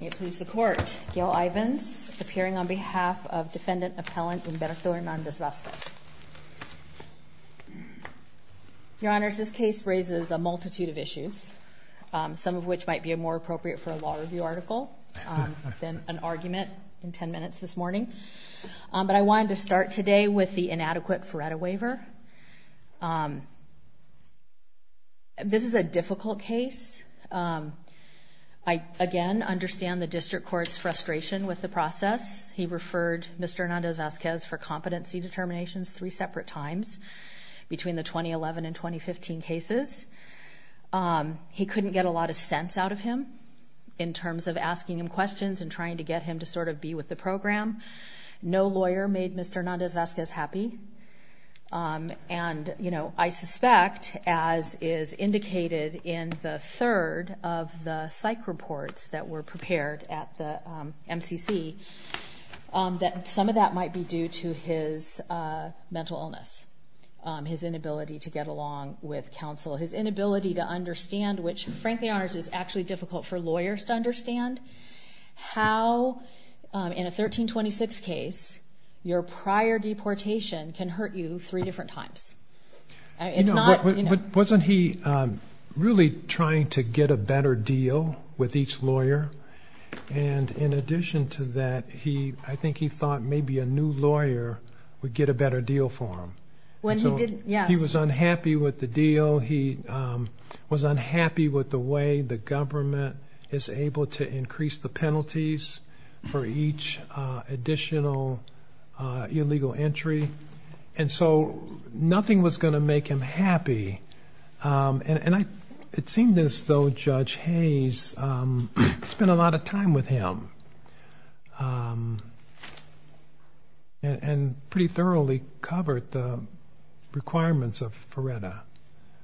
May it please the Court, Gail Ivins, appearing on behalf of Defendant Appellant Umberto Hernandez-Vasquez. Your Honors, this case raises a multitude of issues, some of which might be more appropriate for a law review article than an argument in ten minutes this morning. But I wanted to start today with the inadequate Feretta waiver. Um, this is a difficult case. Um, I again understand the District Court's frustration with the process. He referred Mr. Hernandez-Vasquez for competency determinations three separate times between the 2011 and 2015 cases. He couldn't get a lot of sense out of him in terms of asking him questions and trying to get him to sort of be with the program. No lawyer made Mr. Hernandez-Vasquez happy. Um, and, you know, I suspect, as is indicated in the third of the psych reports that were prepared at the, um, MCC, um, that some of that might be due to his, uh, mental illness. Um, his inability to get along with counsel. His inability to understand, which frankly, Your Honors, is actually difficult for lawyers to understand how, um, in a 1326 case, your prior deportation can hurt you three different times. It's not, you know. But wasn't he, um, really trying to get a better deal with each lawyer? And in addition to that, he, I think he thought maybe a new lawyer would get a better deal for him. So he was unhappy with the deal. He, um, was unhappy with the way the government is able to incorporate and increase the penalties for each, uh, additional, uh, illegal entry. And so nothing was going to make him happy. Um, and I, it seemed as though Judge Hayes, um, spent a lot of time with him. Um, and, and pretty thoroughly covered the requirements of FRERTA.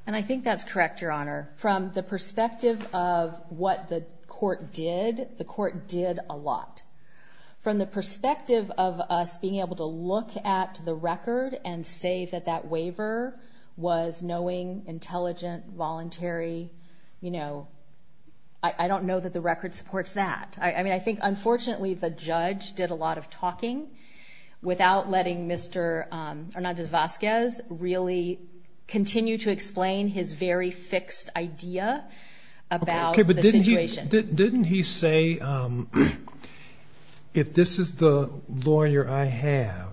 And I think that's correct, Your Honor. From the perspective of what the court did, the court did a lot. From the perspective of us being able to look at the record and say that that waiver was knowing, intelligent, voluntary, you know, I, I don't know that the record supports that. I, I mean, I think, unfortunately, the judge did a lot of talking without letting Mr., um, Hernandez-Vazquez really continue his very fixed idea about the situation. Okay, but didn't he, didn't he say, um, if this is the lawyer I have,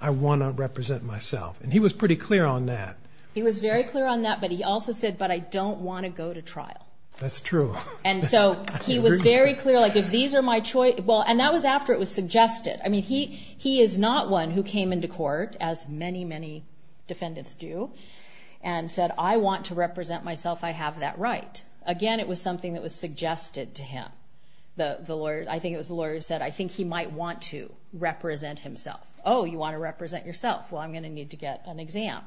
I want to represent myself? And he was pretty clear on that. He was very clear on that, but he also said, but I don't want to go to trial. That's true. And so he was very clear. Like, if these are my choice, well, and that was after it was suggested. I mean, he, he is not one who came into court as many, many defendants do, and said, I want to represent myself. I have that right. Again, it was something that was suggested to him. The, the lawyer, I think it was the lawyer who said, I think he might want to represent himself. Oh, you want to represent yourself. Well, I'm going to need to get an exam.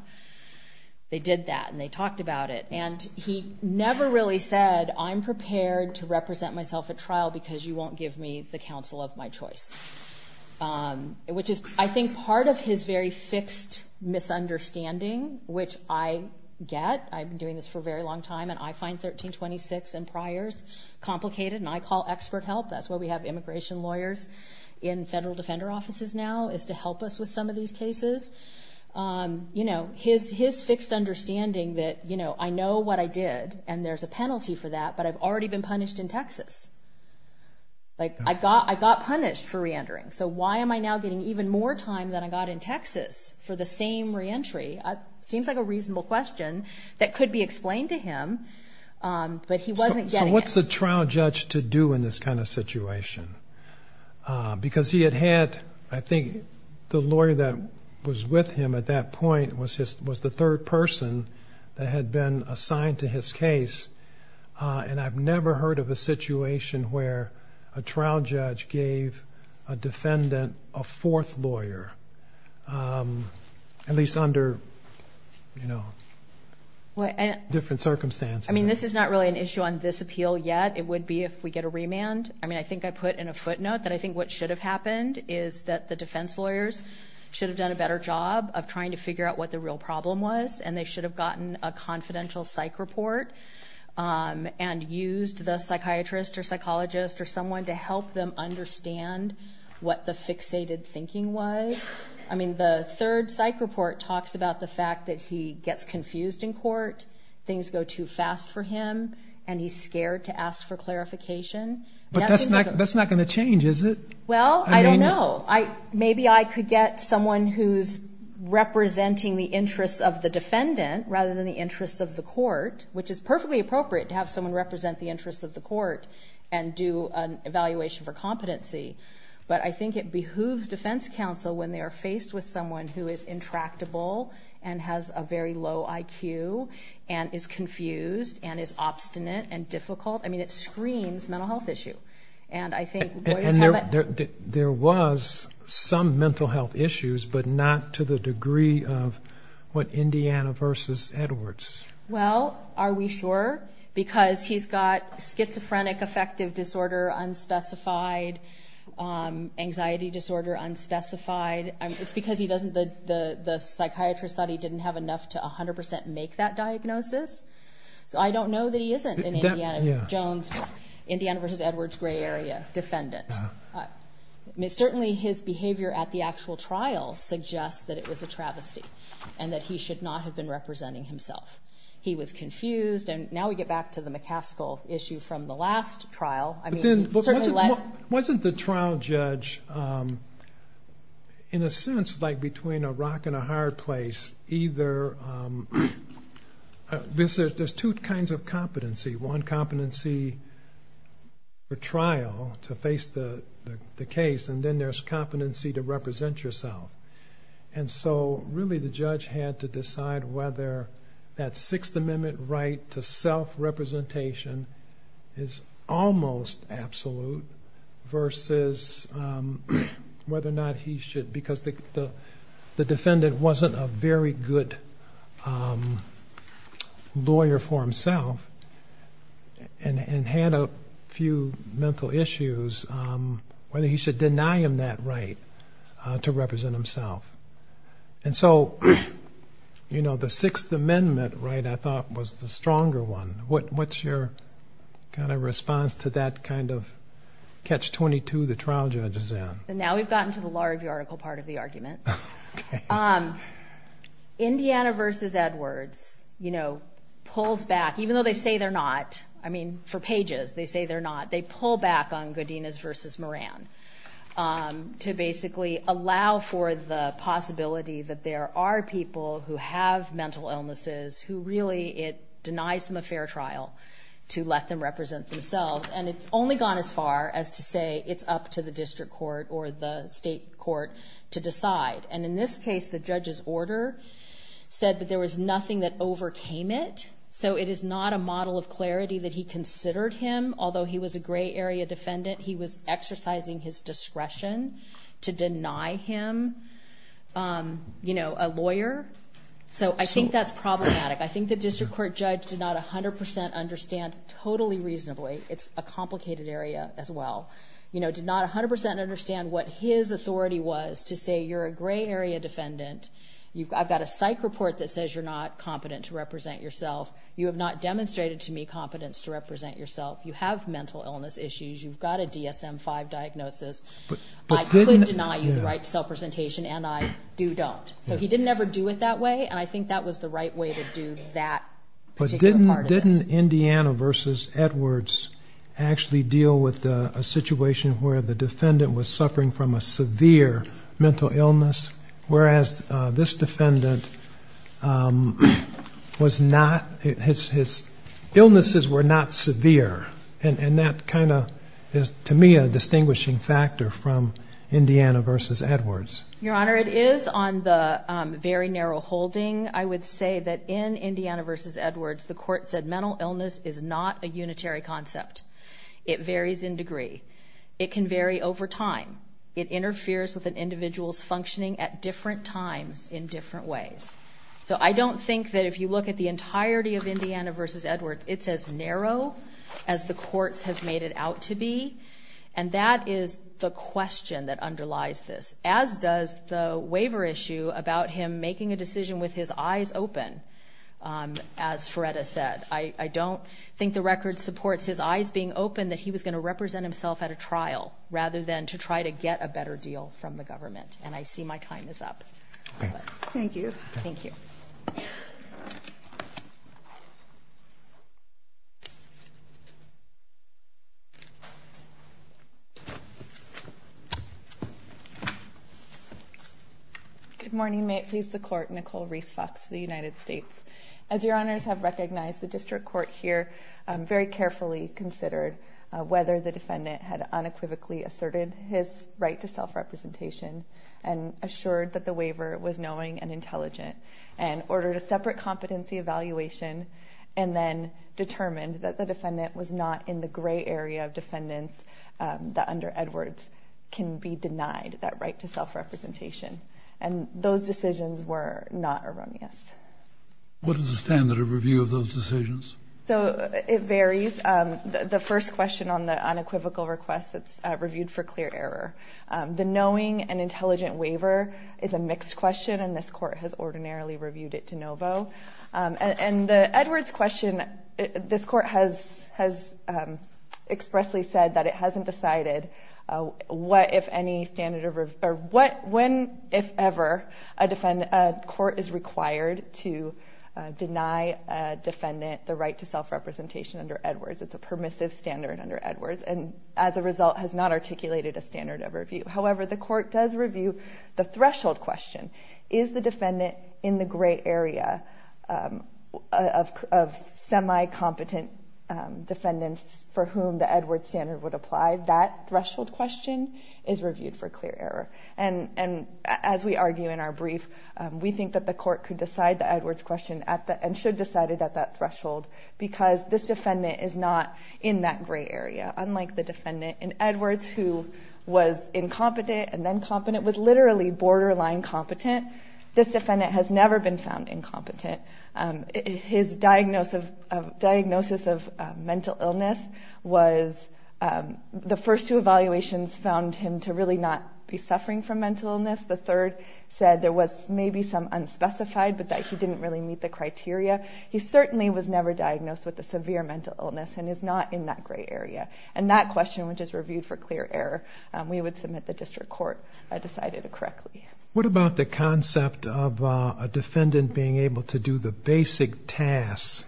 They did that, and they talked about it. And he never really said, I'm prepared to represent myself at trial because you won't give me the counsel of my choice. Um, which is, I think, part of his very fixed misunderstanding of the situation. And I think that's true. Um, his understanding, which I get, I've been doing this for a very long time, and I find 1326 and priors complicated, and I call expert help. That's why we have immigration lawyers in federal defender offices now, is to help us with some of these cases. Um, you know, his, his fixed understanding that, you know, I know what I did, and there's a penalty for that, but I've already been punished in Texas. Like, I got, I got more time than I got in Texas for the same re-entry. It seems like a reasonable question that could be explained to him, um, but he wasn't getting it. So what's a trial judge to do in this kind of situation? Um, because he had had, I think, the lawyer that was with him at that point was his, was the third person that had been assigned to his case. Uh, and I've never heard of a situation where a trial judge gave a defense lawyer, um, at least under, you know, different circumstances. I mean, this is not really an issue on this appeal yet. It would be if we get a remand. I mean, I think I put in a footnote that I think what should have happened is that the defense lawyers should have done a better job of trying to figure out what the real problem was, and they should have gotten a confidential psych report, um, and used the information that they could find out what the real problem was. I mean, the third psych report talks about the fact that he gets confused in court, things go too fast for him, and he's scared to ask for clarification. But that's not, that's not going to change, is it? Well, I don't know. I, maybe I could get someone who's representing the interests of the defendant rather than the interests of the court, which is perfectly appropriate to have someone represent the interests of the court and do an evaluation for competency. But I think it behooves defense counsel to when they are faced with someone who is intractable and has a very low IQ and is confused and is obstinate and difficult, I mean, it screams mental health issue. And I think lawyers have a... And there was some mental health issues, but not to the degree of what Indiana versus Edwards. Well, are we sure? Because he's got schizophrenic affective disorder, unspecified anxiety disorder, unspecified anxiety disorder, unspecified... It's because he doesn't... The psychiatrist thought he didn't have enough to 100% make that diagnosis. So I don't know that he isn't an Indiana Jones, Indiana versus Edwards gray area defendant. Certainly his behavior at the actual trial suggests that it was a travesty and that he should not have been representing himself. He was confused. And now we get back to the McCaskill issue from the trial. In a sense, like between a rock and a hard place, either... There's two kinds of competency. One competency for trial to face the case, and then there's competency to represent yourself. And so really the judge had to decide whether that Sixth Amendment right to self-representation is almost absolute versus whether or not he should... Because the defendant wasn't a very good lawyer for himself and had a few mental issues, whether he should deny him that right to represent himself. And so the Sixth Amendment right, I thought, was the stronger one. What's your kind of response to that kind of catch-22 the trial judge is in? And now we've gotten to the larvae article part of the argument. Indiana versus Edwards pulls back, even though they say they're not. I mean, for pages, they say they're not. They pull back on Godinez versus Moran to basically allow for the possibility that there are people who have mental illnesses who really it denies them a fair trial to let them represent themselves. And it's only gone as far as to say it's up to the district court or the state court to decide. And in this case, the judge's order said that there was nothing that overcame it. So it is not a model of clarity that he considered him. Although he was a gray area defendant, he was exercising his discretion to deny him a lawyer. So I think that's problematic. I think the district court judge did not 100% understand totally reasonably, it's a complicated area as well, you know, did not 100% understand what his authority was to say you're a gray area defendant. I've got a psych report that says you're not competent to represent yourself. You have not demonstrated to me competence to represent yourself. You have mental illness issues. You've got a DSM-5 diagnosis. I could deny you the right to self-presentation, and I do not. So he didn't ever do it that way, and I think that was the right way to do that particular part of this. But didn't Indiana v. Edwards actually deal with a situation where the defendant was suffering from a severe mental illness, whereas this defendant was not, his illnesses were not severe. And that kind of is to me a distinguishing factor from Indiana v. Edwards. Your Honor, it is on the very narrow holding. I would say that in Indiana v. Edwards, the court said mental illness is not a unitary concept. It varies in degree. It can vary over time. It interferes with an individual's functioning at different times in different ways. So I don't think that if you look at the entirety of Indiana v. Edwards, it's as narrow as the courts have made it out to be, and that is the question that underlies this, as does the waiver issue about him making a decision with his eyes open, as Feretta said. I don't think the record supports his eyes being open that he was going to represent himself at a trial rather than to try to get a better deal from the government, and I see my time is up. Thank you. Thank you. Good morning. May it please the Court, Nicole Reese Fox for the United States. As your Honors have recognized, the District Court here very carefully considered whether the defendant had unequivocally asserted his right to self-representation and assured that the waiver was knowing and intelligent, and ordered a separate competency evaluation, and then determined that the defendant was not in the gray area of the court, and therefore, under Edwards, can be denied that right to self-representation. And those decisions were not erroneous. What is the standard of review of those decisions? So it varies. The first question on the unequivocal request, it's reviewed for clear error. The knowing and intelligent waiver is a mixed question, and this question, this Court has expressly said that it hasn't decided what, if any, standard of review, or what, when, if ever, a court is required to deny a defendant the right to self-representation under Edwards. It's a permissive standard under Edwards, and as a result, has not articulated a standard of review. However, the Court does review the threshold question. Is the defendant in the gray area of the court, a semi-competent defendant for whom the Edwards standard would apply? That threshold question is reviewed for clear error. And as we argue in our brief, we think that the Court could decide the Edwards question, and should decide it at that threshold, because this defendant is not in that gray area, unlike the defendant in Edwards, who was incompetent, and then competent, was literally borderline competent. This defendant has never been found incompetent. His diagnosis of mental illness was, the first two evaluations found him to really not be suffering from mental illness. The third said there was maybe some unspecified, but that he didn't really meet the criteria. He certainly was never diagnosed with a severe mental illness, and is not in that gray area. And that question, which is reviewed for clear error, we would submit to the District Court, decided it correctly. What about the concept of a defendant being able to do the basic tasks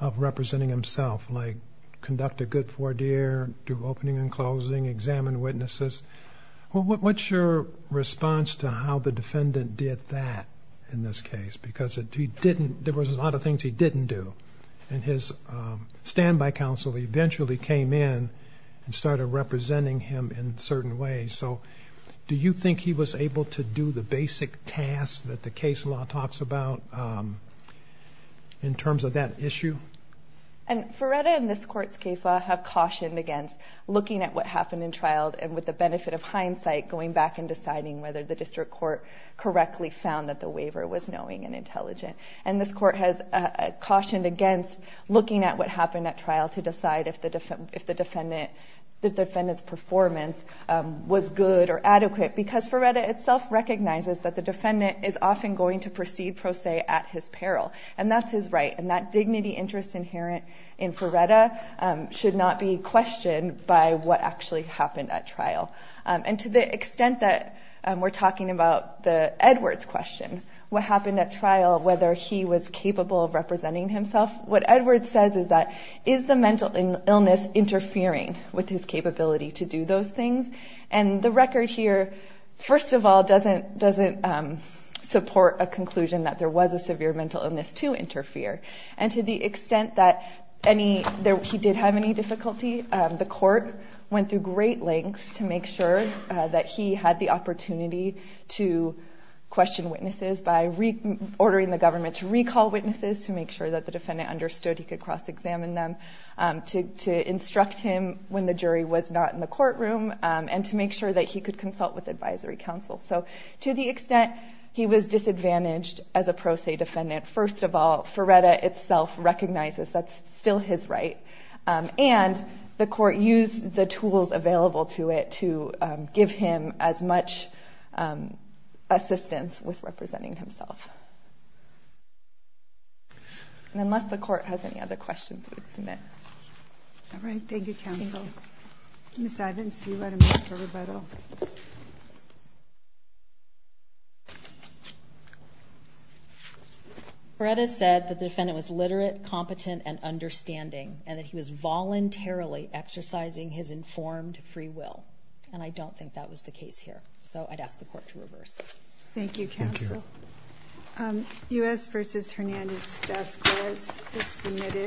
of representing himself, like conduct a good four-year, do opening and closing, examine witnesses? What's your response to how the defendant did that in this case? Because he didn't, there was a lot of things he didn't do, and his standby counsel eventually came in and started representing him in certain ways. So, do you think he was able to do the basic tasks that the case law talks about, in terms of that issue? And Feretta and this Court's case law have cautioned against looking at what happened in trial, and with the benefit of hindsight, going back and deciding whether the District Court correctly found that the waiver was knowing and intelligent. And this Court has cautioned against looking at what happened in trial to decide if the defendant's performance was good or adequate, because Feretta itself recognizes that the defendant is often going to proceed pro se at his peril. And that's his right, and that dignity interest inherent in Feretta should not be questioned by what actually happened at trial. And to the extent that we're talking about the Edwards question, what happened at trial, whether he was capable of representing himself, what happened at trial, was a mental illness interfering with his capability to do those things. And the record here, first of all, doesn't support a conclusion that there was a severe mental illness to interfere. And to the extent that any, he did have any difficulty, the Court went through great lengths to make sure that he had the opportunity to question witnesses by ordering the government to recall witnesses, to make sure that the defendant understood he could cross-examine them, to instruct him when the jury was not in the courtroom, and to make sure that he could consult with advisory counsel. So to the extent he was disadvantaged as a pro se defendant, first of all, Feretta itself recognizes that's still his right. And the Court used the tools available to it to give him as much assistance with representing himself. And unless the Court was able to do that, it would have been a great deal of trouble. And I don't think that the Court has any other questions it would submit. All right. Thank you, counsel. Ms. Ivins, do you have a motion for rebuttal? Feretta said that the defendant was literate, competent, and understanding, and that he was voluntarily exercising his informed free will. And I don't think that was the case here. So I'd ask the Court to reverse. Thank you, counsel. Thank you.